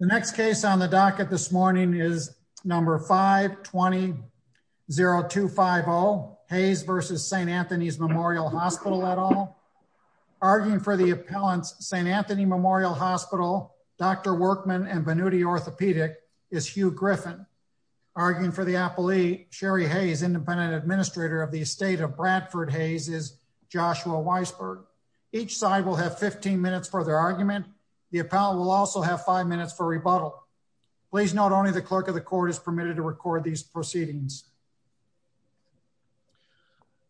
The next case on the docket this morning is number 520-0250, Hayes v. St. Anthony's Memorial Hospital et al. Arguing for the appellant's St. Anthony Memorial Hospital, Dr. Workman and Benuti Orthopedic is Hugh Griffin. Arguing for the appellee, Sherry Hayes, Independent Administrator of the Estate of Bradford Hayes is Joshua Weisberg. Each side will have 15 minutes for their argument. The appellant will also have 5 minutes for rebuttal. Please note only the clerk of the court is permitted to record these proceedings.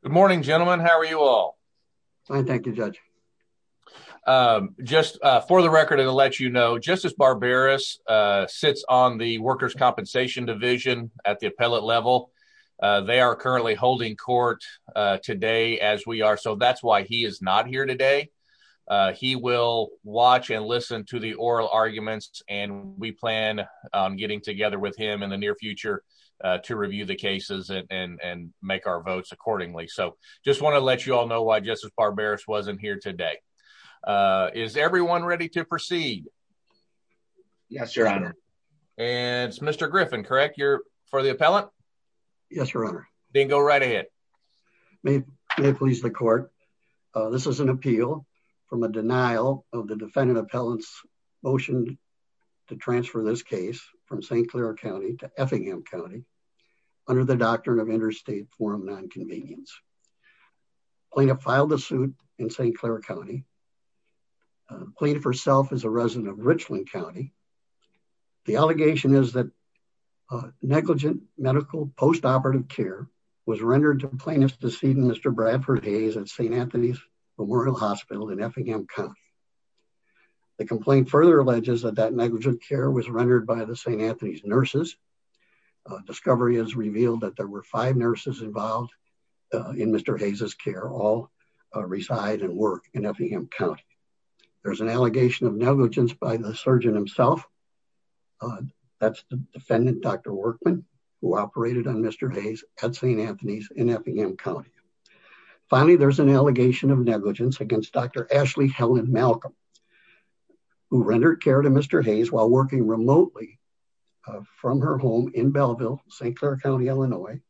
Good morning, gentlemen. How are you all? Fine, thank you, Judge. Just for the record and to let you know, Justice Barbaras sits on the Workers' Compensation Division at the appellate level. They are currently holding court today as we are, that's why he is not here today. He will watch and listen to the oral arguments and we plan getting together with him in the near future to review the cases and make our votes accordingly. Just want to let you all know why Justice Barbaras wasn't here today. Is everyone ready to proceed? Yes, Your Honor. And it's Mr. Griffin, correct? You're for the appellant? Yes, Your Honor. Then go right ahead. May it please the court, this is an appeal from a denial of the defendant appellant's motion to transfer this case from St. Clair County to Effingham County under the doctrine of interstate form nonconvenience. Plaintiff filed the suit in St. Clair County. Plaintiff herself is a resident of Richland County. The allegation is that negligent medical postoperative care was rendered to plaintiff's decedent Mr. Bradford Hayes at St. Anthony's Memorial Hospital in Effingham County. The complaint further alleges that that negligent care was rendered by the St. Anthony's nurses. Discovery has revealed that there were five nurses involved in Mr. Hayes's care all reside and work in Effingham County. There's an allegation by the surgeon himself. That's the defendant, Dr. Workman, who operated on Mr. Hayes at St. Anthony's in Effingham County. Finally, there's an allegation of negligence against Dr. Ashley Helen Malcolm, who rendered care to Mr. Hayes while working remotely from her home in Belleville, St. Clair County, Illinois,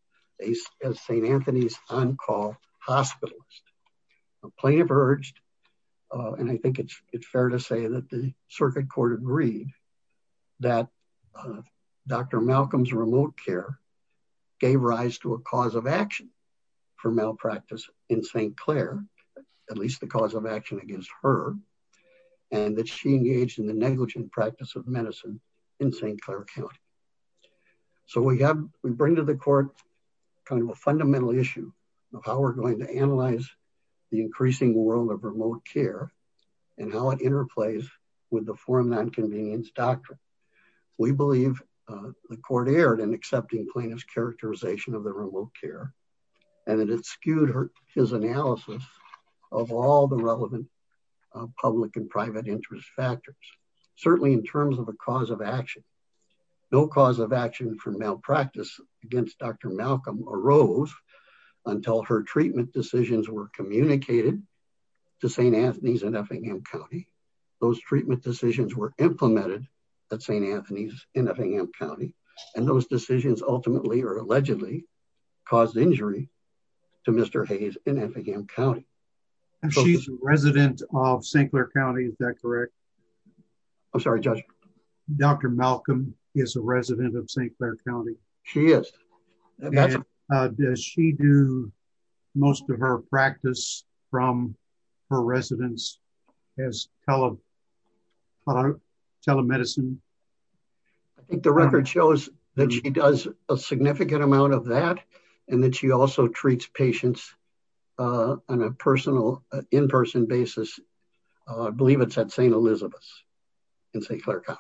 as St. Anthony's on-call hospitalist. Plaintiff urged, and I think it's fair to say that the circuit court agreed, that Dr. Malcolm's remote care gave rise to a cause of action for malpractice in St. Clair, at least the cause of action against her, and that she engaged in the negligent practice of medicine in St. Clair County. So we have, we bring to the court kind of a fundamental issue of how we're going to analyze the increasing world of remote care and how it interplays with the foreign non-convenience doctrine. We believe the court erred in accepting plaintiff's characterization of the remote care, and it skewed his analysis of all the relevant public and private interest factors, certainly in terms of a cause of action. No cause of action for malpractice against Dr. Malcolm arose until her treatment decisions were communicated to St. Anthony's in Effingham County. Those treatment decisions were implemented at St. Anthony's in Effingham County, and those decisions ultimately, or allegedly, caused injury to Mr. Hayes in Effingham County. And she's a resident of St. Clair County, is that correct? I'm sorry, Judge. Dr. Malcolm is a resident of St. Clair County? She is. Does she do most of her practice from her residence as telemedicine? I think the record shows that she does a significant amount of that, and that she also treats patients on a personal, in-person basis. I believe it's at St. Elizabeth's in St. Clair County.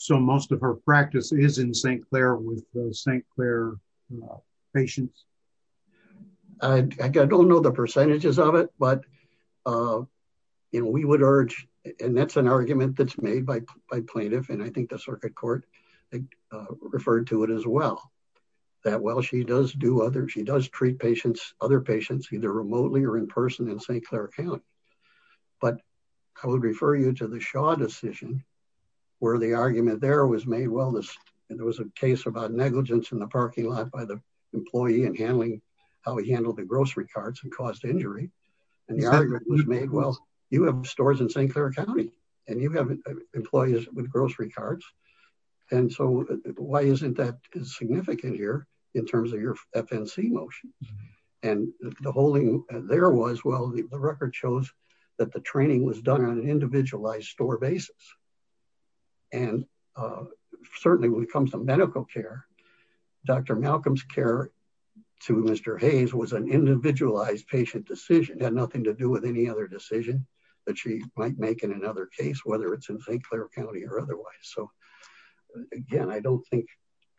So, most of her practice is in St. Clair with St. Clair patients? I don't know the percentages of it, but we would urge, and that's an argument that's made by plaintiff, and I think the circuit court referred to it as well, that while she does do other, she does treat patients, other patients, either remotely or in-person in St. Clair County. But I would refer you to the Shaw decision, where the argument there was made, well, there was a case about negligence in the parking lot by the employee and handling, how he handled the grocery carts and caused injury. And the argument was made, well, you have stores in St. Clair County, and you have employees with grocery carts. And so, why isn't that significant here in terms of your FNC motions? And the holding there was, well, the record shows that the training was done on an individualized store basis. And certainly, when it comes to medical care, Dr. Malcolm's care to Mr. Hayes was an individualized patient decision, had nothing to do with any other decision that she might make in another case, whether it's in St. Clair County or otherwise. So, again, I don't think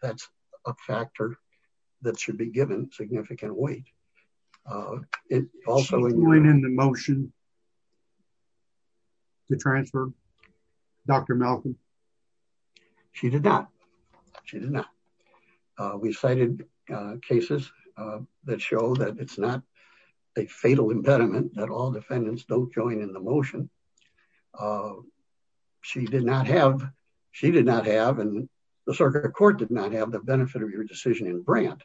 that's a factor that should be given significant weight. It also- Did she join in the motion to transfer Dr. Malcolm? She did not. She did not. We cited cases that show that it's not a fatal impediment that all defendants don't join in motion. She did not have, and the circuit court did not have the benefit of your decision in Brandt,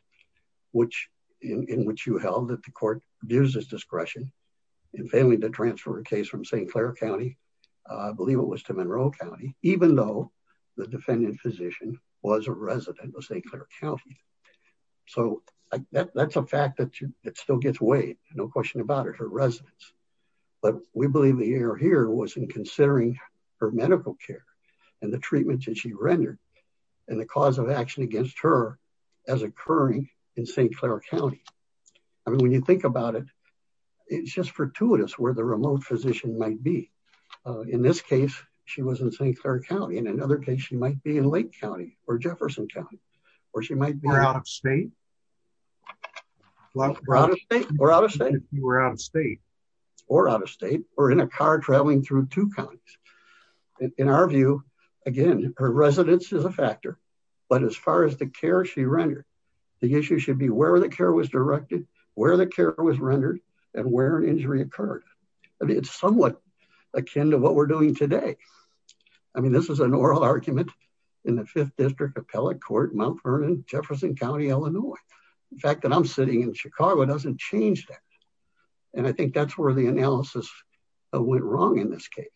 in which you held that the court gives this discretion in failing to transfer a case from St. Clair County, I believe it was to Monroe County, even though the defendant physician was a resident of St. Clair County. So, that's a fact that still gets weighed, no question about it, her residence. But we believe the error here was in considering her medical care and the treatment that she rendered and the cause of action against her as occurring in St. Clair County. I mean, when you think about it, it's just fortuitous where the remote physician might be. In this case, she was in St. Clair County. In another case, she might be in Lake County or Jefferson County, or she might be- Or out of state? Or out of state. Or out of state. Or out of state, or in a car traveling through two counties. In our view, again, her residence is a factor. But as far as the care she rendered, the issue should be where the care was directed, where the care was rendered, and where an injury occurred. I mean, it's somewhat akin to what we're doing today. I mean, this is an oral argument in the 5th District Appellate Court, Mount Vernon, Jefferson County, Illinois. The fact that I'm sitting in Chicago doesn't change that. And I think that's where the analysis went wrong in this case.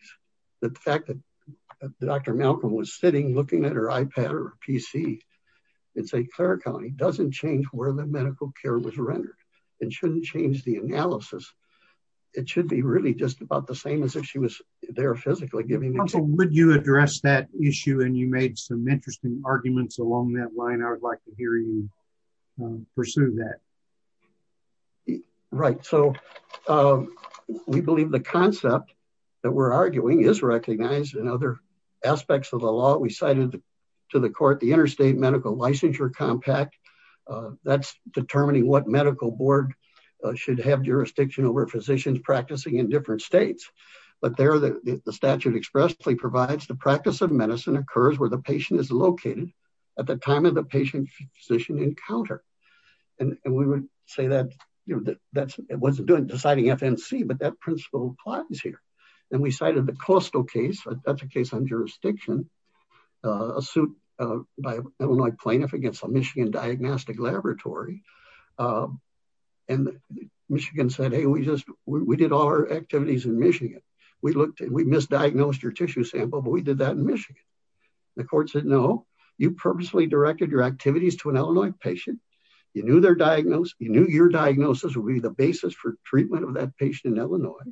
The fact that Dr. Malcolm was sitting looking at her iPad or PC in St. Clair County doesn't change where the medical care was rendered. It shouldn't change the analysis. It should be really just about the same as if she was there physically giving- Would you address that issue? And you made some interesting arguments along that line. I would like to hear you pursue that. Right. So we believe the concept that we're arguing is recognized in other aspects of the law. We cited to the court the Interstate Medical Licensure Compact. That's determining what medical board should have jurisdiction over physicians practicing in different states. But there, the statute expressly provides the practice of medicine occurs where the patient is located at the time of the patient-physician encounter. And we would say that it wasn't deciding FNC, but that principle applies here. And we cited the costal case. That's a case on jurisdiction. A suit by an Illinois plaintiff against a Michigan diagnostic laboratory. And Michigan said, hey, we did all our activities in Michigan. We misdiagnosed your tissue sample, but we did that in Michigan. The court said, no, you purposely directed your activities to an Illinois patient. You knew their diagnosis. You knew your diagnosis would be the basis for treatment of that patient in Illinois.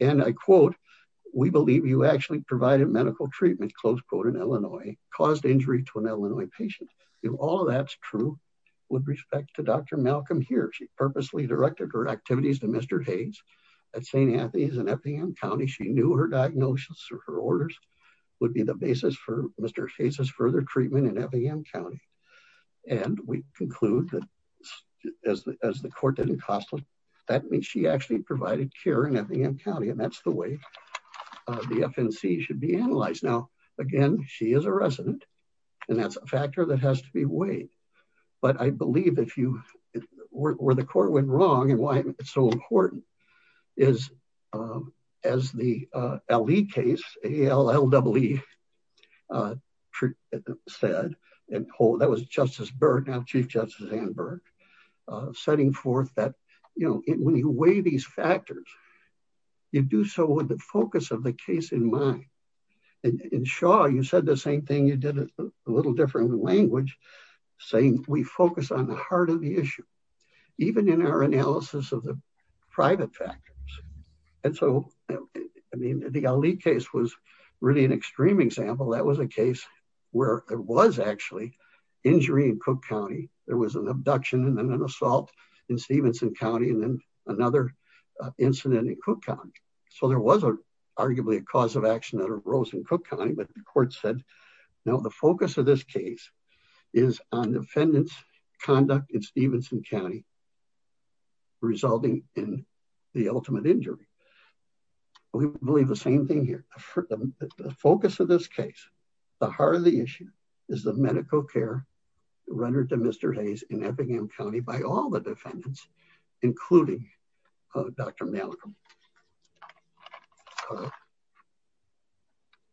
And I quote, we believe you actually provided medical treatment, close quote, in Illinois, caused injury to an Illinois patient. If all of that's true, with respect to Dr. Malcolm here, she purposely directed her activities to Mr. Hayes at St. Anthony's in Effingham County. She knew her diagnosis or her orders would be the basis for Mr. Hayes's further treatment in Effingham County. And we conclude that as the court didn't cost her, that means she actually provided care in Effingham County. And that's the way the FNC should be analyzed. Now, again, she is a resident and that's a factor that has to be weighed. But I believe if you, where the court went wrong and why it's so important is, as the LE case, A-L-L-E said, that was Justice Burke, now Chief Justice Ann Burke, setting forth that, you know, when you weigh these factors, you do so with the focus of the case in mind. And in Shaw, you said the same thing. You did it a little different language, saying we focus on the heart of the issue. Even in our analysis of the private factors. And so, I mean, the A-L-L-E case was really an extreme example. That was a case where there was actually injury in Cook County. There was an abduction and then an assault in Stevenson County, and then another incident in Cook County. So there was arguably a cause of action that arose in Cook County. But the court said, now the focus of this case is on defendant's conduct in Stevenson County, resulting in the ultimate injury. We believe the same thing here. The focus of this case, the heart of the issue, is the medical care rendered to Mr. Hayes in Eppingham County by all the defendants, including Dr. Malcolm.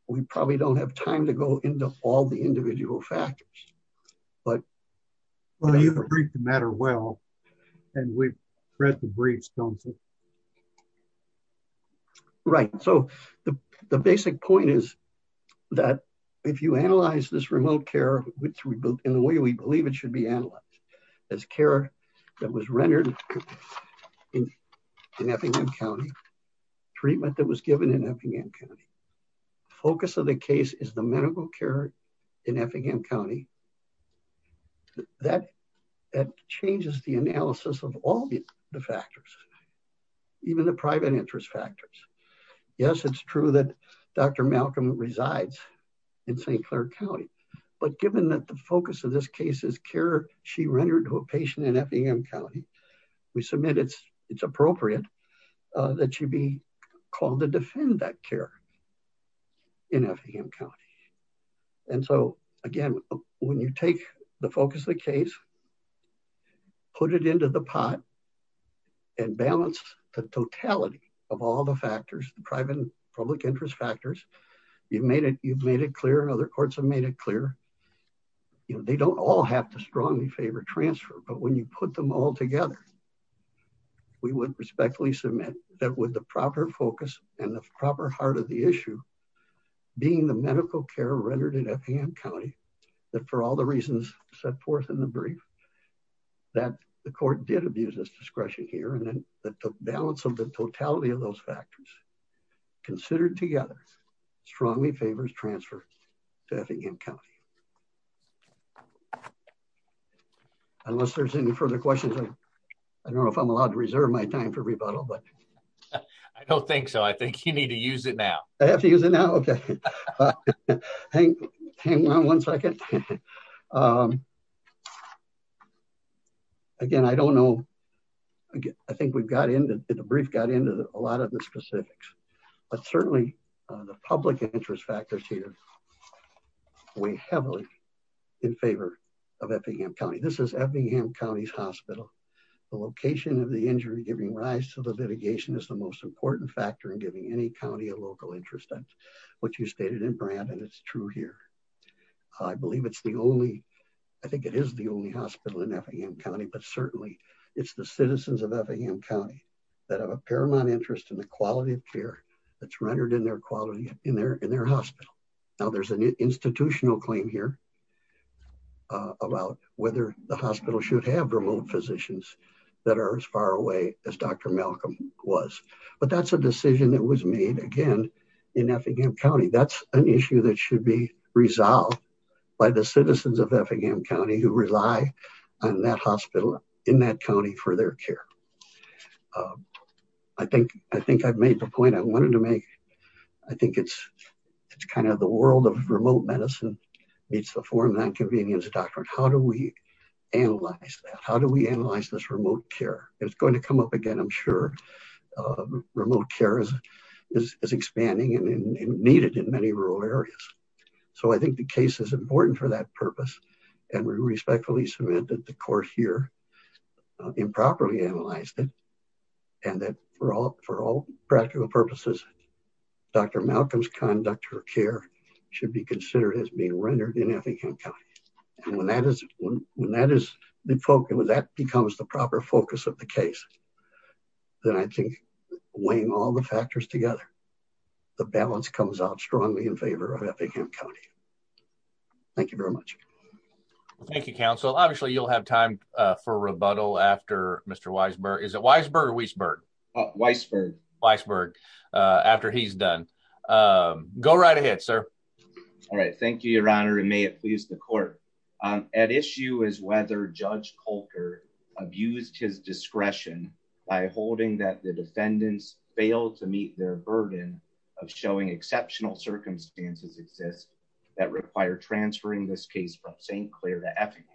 We probably don't have time to go into all the individual factors. But- Well, you've agreed to matter well. And we've read the briefs, don't we? Right. So the basic point is that if you analyze this remote care in the way we believe it should be analyzed, as care that was rendered in Eppingham County, treatment that was given in Eppingham County, that changes the analysis of all the factors, even the private interest factors. Yes, it's true that Dr. Malcolm resides in St. Clair County. But given that the focus of this case is care she rendered to a patient in Eppingham County, we submit it's appropriate that she be called to defend that care in Eppingham County. And so, again, when you take the focus of the case, put it into the pot, and balance the totality of all the factors, the private and public interest factors, you've made it clear, and other courts have made it clear, they don't all have to strongly favor transfer. But when you put them all together, we would respectfully submit that with the proper focus and the proper heart of the issue, being the medical care rendered in Eppingham County, that for all the reasons set forth in the brief, that the court did abuse this discretion here. And then the balance of the totality of those factors, considered together, strongly favors transfer to Eppingham County. Unless there's any further questions, I don't know if I'm allowed to reserve my time for rebuttal. I don't think so. I think you need to use it now. I have to use it now? Okay. Hang on one second. Again, I don't know. I think the brief got into a lot of the specifics, but certainly the public interest factors here weigh heavily in favor of Eppingham County. This is Eppingham County's hospital. The location of the injury giving rise to the litigation is the most important factor in giving any county a local interest, which you stated in Brandon, it's true here. I believe it's the only, I think it is the only hospital in Eppingham County, but certainly it's the citizens of Eppingham County that have a paramount interest in the quality of care that's rendered in their quality in their hospital. Now there's an institutional claim here about whether the hospital should have remote physicians that are as far away as Dr. Malcolm was, but that's a decision that was made again in Effingham County. That's an issue that should be resolved by the citizens of Eppingham County who rely on that hospital in that county for their care. I think I've made the point I wanted to make. I think it's kind of the world of remote medicine meets the foreign non-convenience doctrine. How do we analyze that? How do we analyze this remote care? It's going to come up again, I'm sure. Remote care is expanding and needed in many rural areas. So I think the case is important for that purpose and we respectfully submit that the court here improperly analyzed it and that for all practical purposes, Dr. Malcolm's conduct or care should be considered as being rendered in Effingham County. And when that becomes the proper focus of the case, then I think weighing all the factors together, the balance comes out strongly in favor of Eppingham County. Thank you very much. Thank you, counsel. Obviously, you'll have time for rebuttal after Mr. Weisberg. Is it Weisberg or Weisberg? Weisberg. Weisberg, after he's done. Go right ahead, sir. All right. Thank you, Your Honor, and may it please the court. At issue is whether Judge Coulter abused his discretion by holding that the defendants failed to meet their burden of showing exceptional circumstances exist that require transferring this case from St. Clair to Effingham.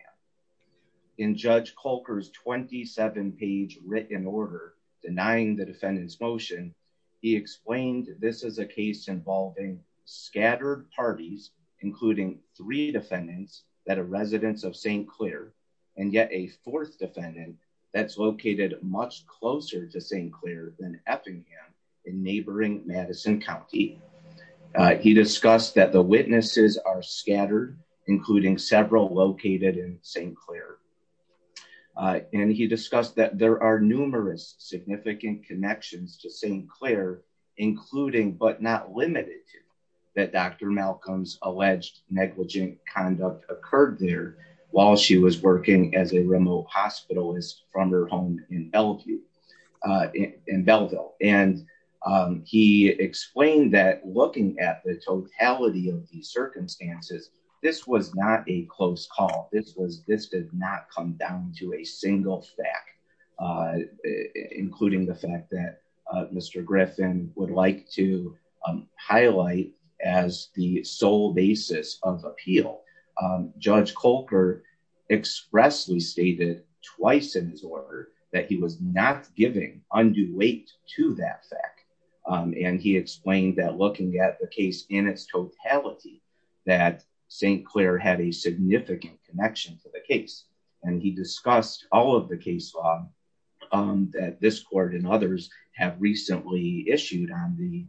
In Judge Coulter's 27-page written order denying the defendant's motion, he explained this is a case involving scattered parties, including three defendants that are residents of St. Clair and yet a fourth defendant that's located much closer to St. Clair than Effingham in neighboring Madison County. He discussed that the witnesses are scattered, including several located in St. Clair, and he discussed that there are numerous significant connections to St. Clair, including but not limited to that Dr. Malcolm's alleged negligent conduct occurred there while she was working as a remote hospitalist from her home in Bellevue in Belleville. And he explained that looking at the totality of the circumstances, this was not a close call. This was this did not come down to a single stack, including the fact that Mr. Griffin would like to highlight as the appeal. Judge Coulter expressly stated twice in his order that he was not giving undue weight to that fact. And he explained that looking at the case in its totality, that St. Clair had a significant connection to the case. And he discussed all of the case law that this court and others have recently issued on the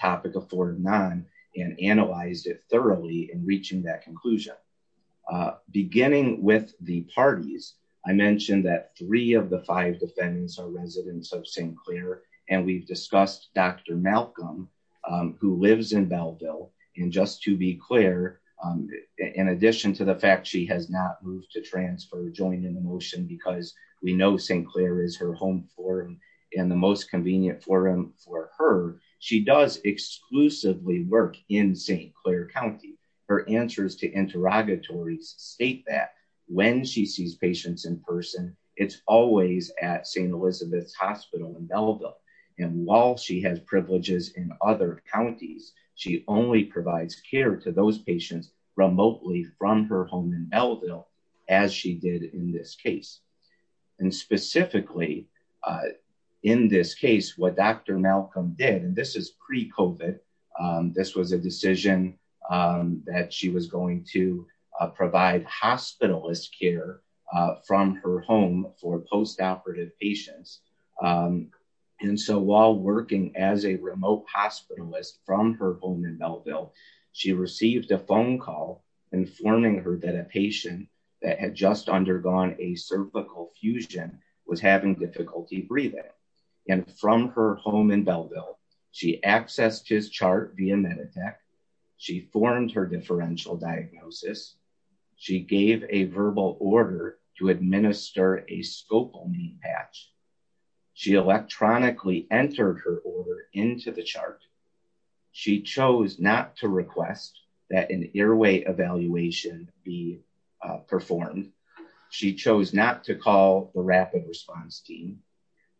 topic of four of nine and analyzed it thoroughly in reaching that conclusion. Beginning with the parties, I mentioned that three of the five defendants are residents of St. Clair, and we've discussed Dr. Malcolm, who lives in Belleville. And just to be clear, in addition to the fact she has not moved to transfer, joined in the motion because we know St. Clair is her home forum and the most convenient forum for her, she does exclusively work in St. Clair County. Her answers to interrogatories state that when she sees patients in person, it's always at St. Elizabeth's Hospital in Belleville. And while she has privileges in other counties, she only provides care to those patients remotely from her home in Belleville, as she did in this case. And specifically in this case, what Dr. Malcolm did, and this is pre-COVID, this was a decision that she was going to provide hospitalist care from her home for postoperative patients. And so while working as a remote hospitalist from her home in Belleville, she received a phone call informing her that a patient that had just undergone a cervical fusion was having difficulty breathing. And from her home in Belleville, she accessed his chart via Meditech, she formed her differential diagnosis, she gave a verbal order to administer a scopolamine patch, she electronically entered her order into the chart. She chose not to request that an airway evaluation be performed. She chose not to call the rapid response team.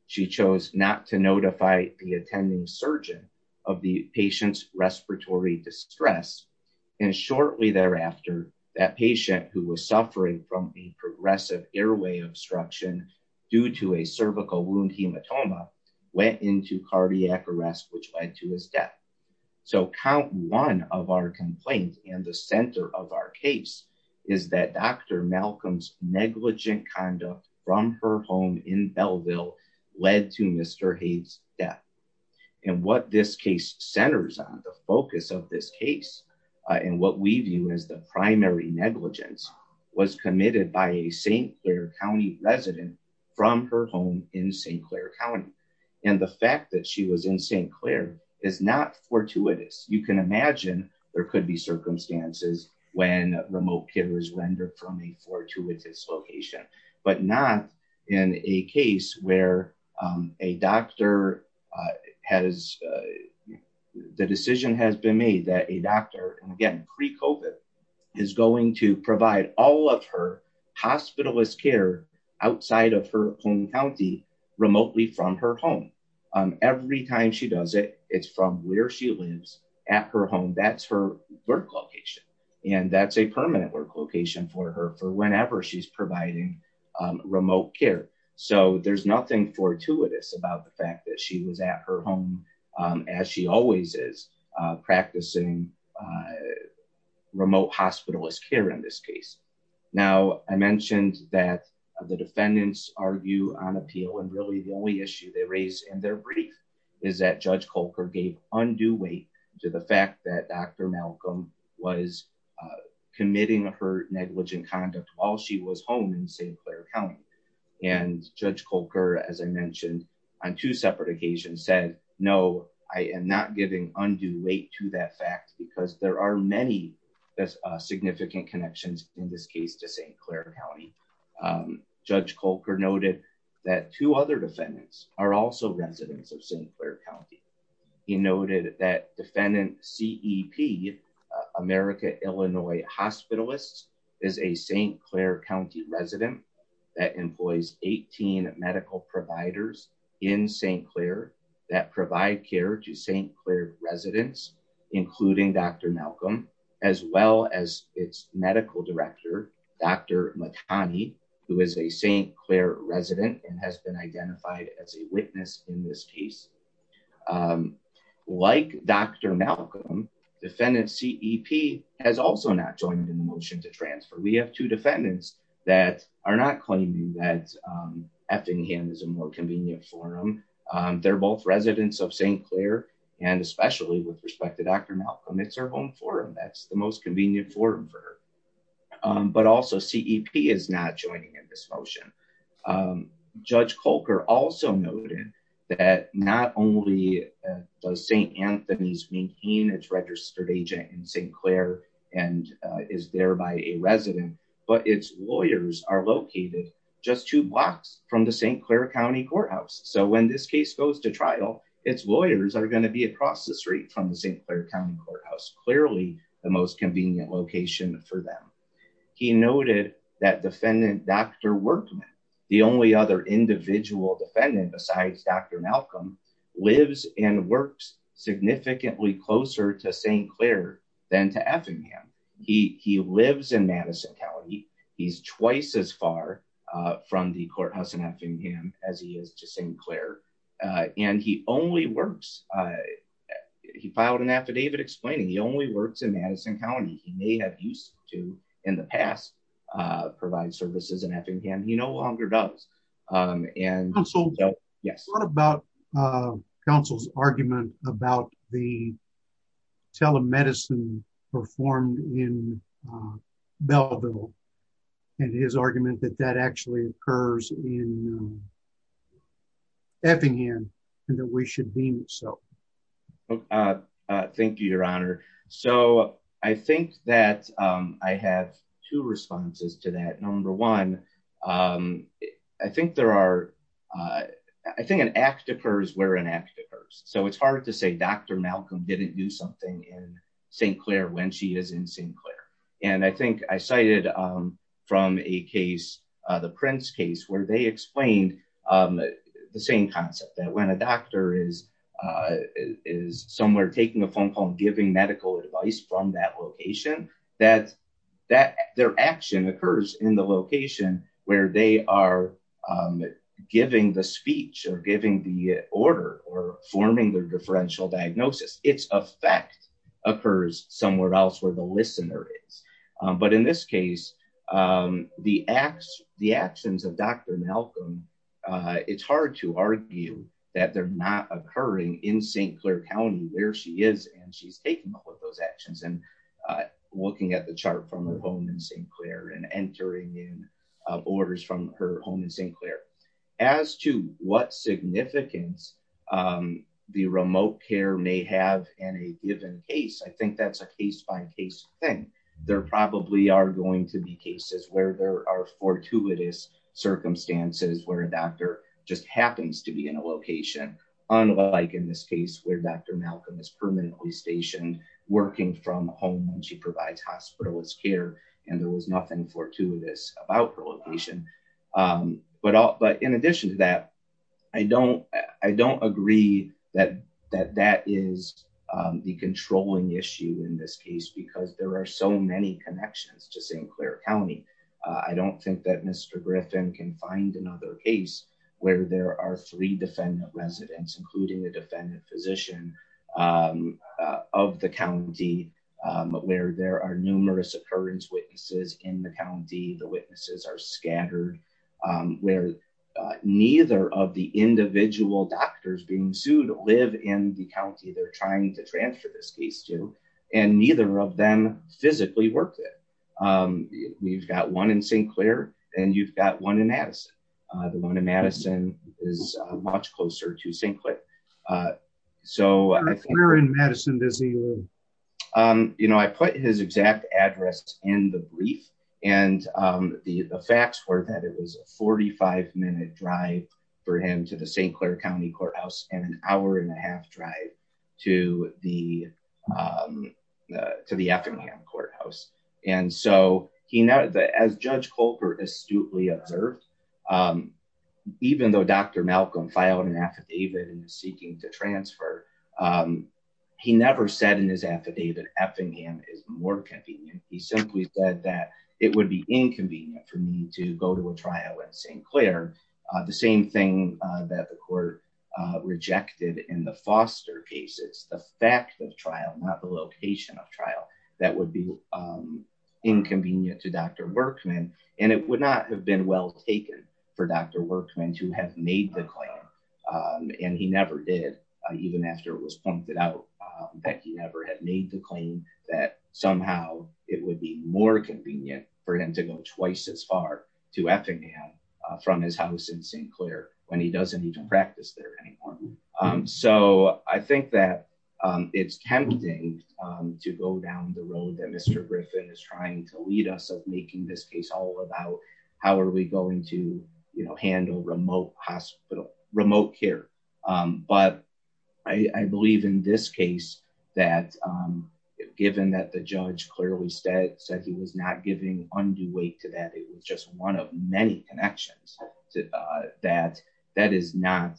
She chose not to notify the attending surgeon of the patient's respiratory distress. And shortly thereafter, that patient who was suffering from a progressive airway obstruction due to a cervical wound hematoma, went into cardiac arrest, which led to his death. So count one of our complaints and the center of our case is that Dr. Malcolm's negligent conduct from her home in Belleville led to Mr. Hayes' death. And what this case centers on, the focus of this case, and what we view as the primary negligence was committed by a St. Clair County resident from her home in St. Clair County. And the fact that she was in St. Clair is not fortuitous. You can imagine there could be circumstances when remote care is rendered from a fortuitous location, but not in a case where a doctor has, the decision has been made that a doctor, and again, pre-COVID, is going to provide all of her hospitalist care outside of her home county, remotely from her home. Every time she does it, it's from where she lives at her home. That's her work location. And that's a permanent work location for her for whenever she's providing remote care. So there's nothing fortuitous about the fact that she was at her home, as she always is, practicing remote hospitalist care in this case. Now, I mentioned that the defendants argue on appeal, and really the only issue they raised in their brief is that Judge Colker gave undue weight to the fact that Dr. Malcolm was committing her negligent conduct while she was home in St. Clair County. And Judge Colker, as I mentioned, on two separate occasions said, no, I am not giving undue weight to that fact because there are many significant connections in this case to St. Clair County. Judge Colker noted that two other defendants are also residents of St. Clair County. He noted that defendant CEP, America Illinois Hospitalist, is a St. Clair County resident that employs 18 medical providers in St. Clair that provide care to St. Clair residents, including Dr. Malcolm, as well as its medical director, Dr. Matani, who is a St. Clair resident and has been identified as a witness in this case. Like Dr. Malcolm, defendant CEP has also not joined in the motion to transfer. We have two defendants that are not claiming that Effingham is a more convenient forum. They're both residents of St. Clair, and especially with respect to Dr. Malcolm, it's her home forum. That's the most joining in this motion. Judge Colker also noted that not only does St. Anthony's maintain its registered agent in St. Clair and is thereby a resident, but its lawyers are located just two blocks from the St. Clair County courthouse. So when this case goes to trial, its lawyers are going to be across the street from the St. Clair County courthouse, clearly the most convenient location for them. He noted that defendant Dr. Workman, the only other individual defendant besides Dr. Malcolm, lives and works significantly closer to St. Clair than to Effingham. He lives in Madison County. He's twice as far from the courthouse in Effingham as he is to St. Clair, and he only works, he filed an affidavit explaining he only works in Madison County. He may have used to, in the past, provide services in Effingham. He no longer does. What about counsel's argument about the telemedicine performed in Effingham and that we should deem it so? Thank you, your honor. So I think that I have two responses to that. Number one, I think there are, I think an act occurs where an act occurs. So it's hard to say Dr. Malcolm didn't do something in St. Clair when she is in St. Clair. And I think I cited from a case, the Prince case, where they explained the same concept, that when a doctor is somewhere taking a phone call and giving medical advice from that location, that their action occurs in the location where they are giving the speech or giving the order or forming their differential diagnosis. Its effect occurs somewhere else where the listener is. But in this case, the acts, the actions of Dr. Malcolm, it's hard to argue that they're not occurring in St. Clair County where she is and she's taking all of those actions and looking at the chart from her home in St. Clair and entering in orders from her home in St. Clair. As to what significance the remote care may have in a given case, I think that's a case by case thing. There probably are going to be cases where there are fortuitous circumstances where a doctor just happens to be in a location. Unlike in this case where Dr. Malcolm is permanently stationed working from home and she provides hospitalist care and there was nothing fortuitous about her I don't agree that that is the controlling issue in this case because there are so many connections to St. Clair County. I don't think that Mr. Griffin can find another case where there are three defendant residents, including a defendant physician, of the county where there are numerous occurrence witnesses in the county. The witnesses are scattered where neither of the individual doctors being sued live in the county they're trying to transfer this case to and neither of them physically work there. We've got one in St. Clair and you've got one in Madison. The one in Madison is much closer to St. Clair. Where in Madison does he live? You know, I put his exact address in the brief and the facts were that it was a 45-minute drive for him to the St. Clair County Courthouse and an hour and a half drive to the Effingham Courthouse. As Judge Colbert astutely observed, even though Dr. Malcolm filed an affidavit and is seeking to transfer, he never said in his affidavit Effingham is more convenient. He simply said that it would be inconvenient for me to go to a trial in St. Clair. The same thing that the court rejected in the Foster cases. The fact of trial, not the location of trial, that would be inconvenient to Dr. Workman and it would not have been well taken for Dr. Workman to have made the claim and he never did, even after it was pointed out that he never had made the claim that somehow it would be more convenient for him to go twice as far to Effingham from his house in St. Clair when he doesn't need to practice there anymore. So I think that it's tempting to go down the road that Mr. Griffin is trying to lead us of making this case all about how are we going to handle remote care. But I believe in this case that given that the judge clearly said he was not giving undue weight to that, it was just one of many connections, that is not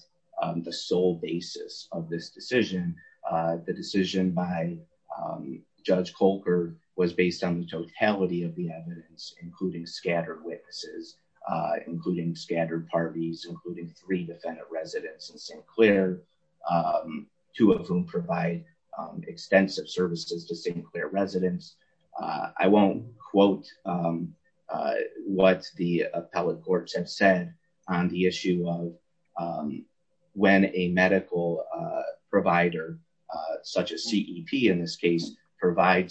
the sole basis of this decision. The decision by Judge Colbert was based on the uh, including scattered parties, including three defendant residents in St. Clair, two of whom provide extensive services to St. Clair residents. I won't quote what the appellate courts have said on the issue of when a medical provider, such as CEP in this I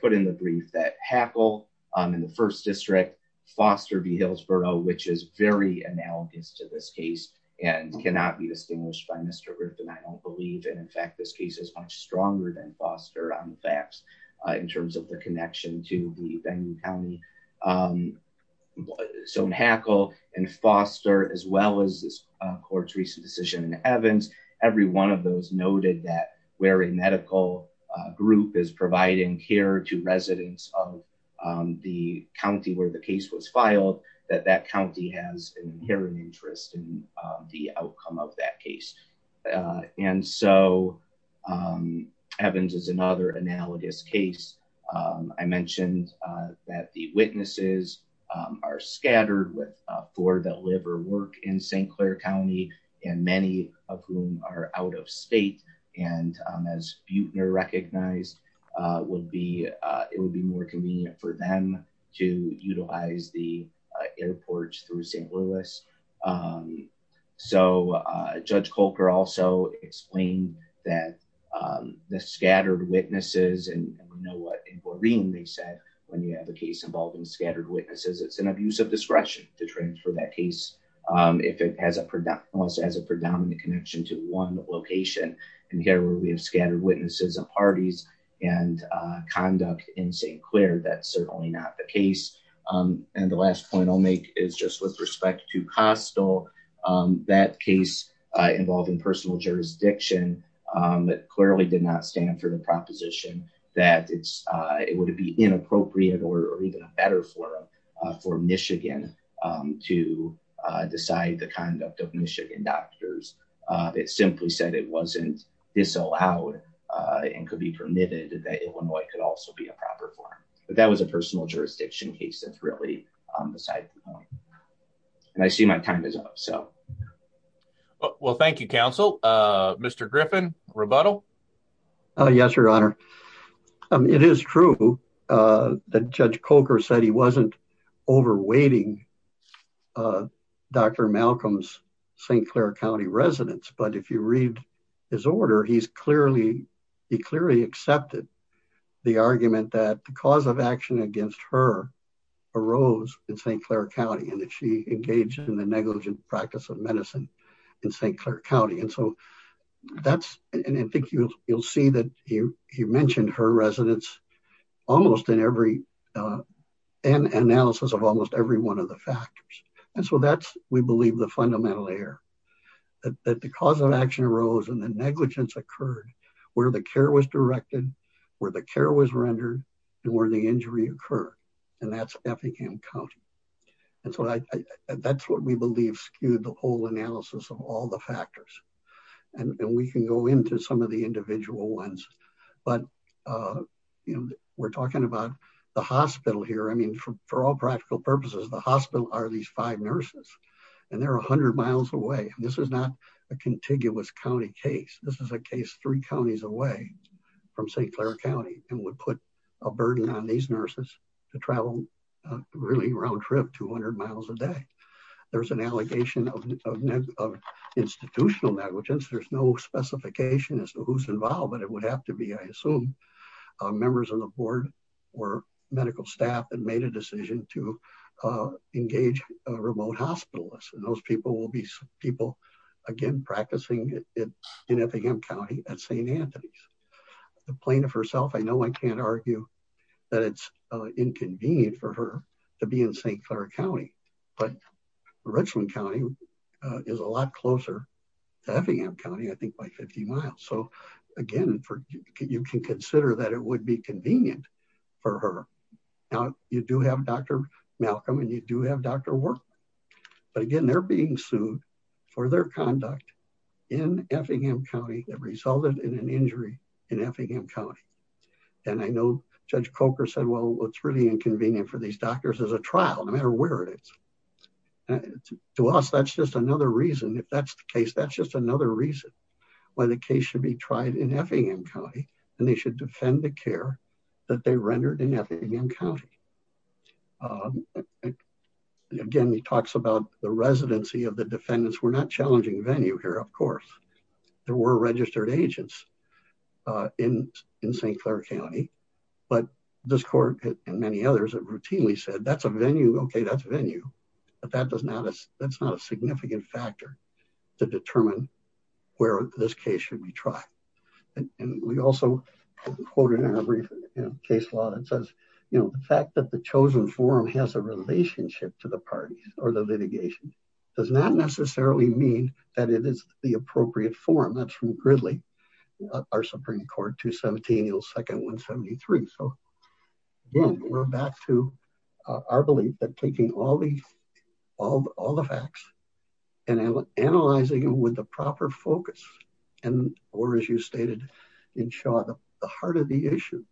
put in the brief that Hackle in the first district, Foster v. Hillsborough, which is very analogous to this case and cannot be distinguished by Mr. Griffin, I don't believe. And in fact, this case is much stronger than Foster on the facts in terms of the connection to the county. So Hackle and Foster, as well as this court's recent decision in Evans, every one of those noted that where a medical group is providing care to residents of the county where the case was filed, that that county has an inherent interest in the outcome of that case. And so Evans is another analogous case. I mentioned that the witnesses are scattered with four that live or work in St. Clair County and many of whom are out of state. And as Buechner recognized, it would be more convenient for them to utilize the airports through St. Louis. So Judge Colbert also explained that the scattered witnesses, and we know what they said when you have a case involving scattered witnesses, it's an abuse of discretion to transfer that case if it has a predominant connection to one location. And here we have scattered witnesses and parties and conduct in St. Clair. That's certainly not the case. And the last point I'll make is just with respect to Kostal, that case involving personal jurisdiction, that clearly did not stand for the proposition that it would be inappropriate or even better for Michigan to decide the conduct of Michigan doctors. It simply said it wasn't disallowed and could be permitted that Illinois could also be a proper forum. But that was a personal jurisdiction case that's really on the side of the home. And I see my time is up. So well, thank you, counsel. Mr Griffin rebuttal. Yes, your honor. It is true that Judge Coker said he wasn't over waiting Dr. Malcolm's St. Clair County residents. But if you read his order, he's clearly he clearly accepted the argument that the cause of action against her arose in St. Clair County and that she engaged in the negligent practice of medicine in St. Clair County. And so that's and I think you'll see that you mentioned her residents almost in every analysis of almost every one of the factors. And so that's, we believe, the fundamental error that the cause of action arose and the negligence occurred where the care was directed, where the care was rendered, and where the injury occurred. And that's Effingham County. And so that's what we believe skewed the whole analysis of all the factors. And we can go into some of the individual ones. But, you know, we're talking about the hospital here. I mean, for all practical purposes, the hospital are these five nurses, and they're 100 miles away. This is not a contiguous county case. This is a case three counties away from St. Clair County and would put a burden on these nurses to travel really round trip 200 miles a day. There's an allegation of institutional negligence. There's no specification as to who's involved, but it would have to be I assume, members of the board, or medical staff that made a decision to again, practicing in Effingham County at St. Anthony's. The plaintiff herself, I know I can't argue that it's inconvenient for her to be in St. Clair County, but Richland County is a lot closer to Effingham County, I think by 50 miles. So again, you can consider that it would be convenient for her. Now you do have Dr. Malcolm and you do have Dr. Workman. But again, they're being sued for their conduct in Effingham County that resulted in an injury in Effingham County. And I know Judge Coker said, well, it's really inconvenient for these doctors as a trial no matter where it is. To us, that's just another reason if that's the case, that's just another reason why the case should be tried in Effingham County, and they should defend the care that they were not challenging venue here. Of course, there were registered agents in St. Clair County, but this court and many others have routinely said that's a venue, okay, that's venue, but that's not a significant factor to determine where this case should be tried. And we also quoted in a brief case law that says, the fact that the chosen forum has a relationship to the litigation does not necessarily mean that it is the appropriate forum. That's from Gridley, our Supreme Court, 217, second 173. So again, we're back to our belief that taking all the facts and analyzing them with the proper focus, or as you stated in Shaw, the heart of the issue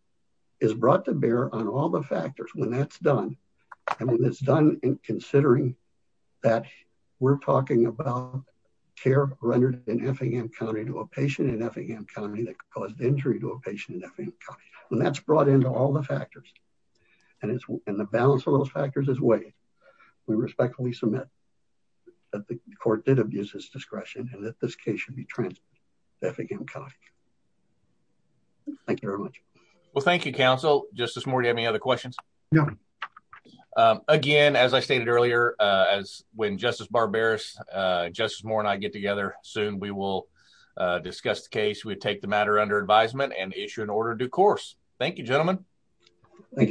is brought to bear on all the factors when that's done. And when it's done in considering that, we're talking about care rendered in Effingham County to a patient in Effingham County that caused injury to a patient in Effingham County, and that's brought into all the factors. And the balance of those factors is weight. We respectfully submit that the court did abuse his discretion and that this case should be transferred to Effingham County. Thank you very much. Well, thank you, counsel. Justice Moore, do you have any other questions? No. Again, as I stated earlier, as when Justice Barberis, Justice Moore and I get together soon, we will discuss the case. We take the matter under advisement and issue an order due course. Thank you, gentlemen. Thank you.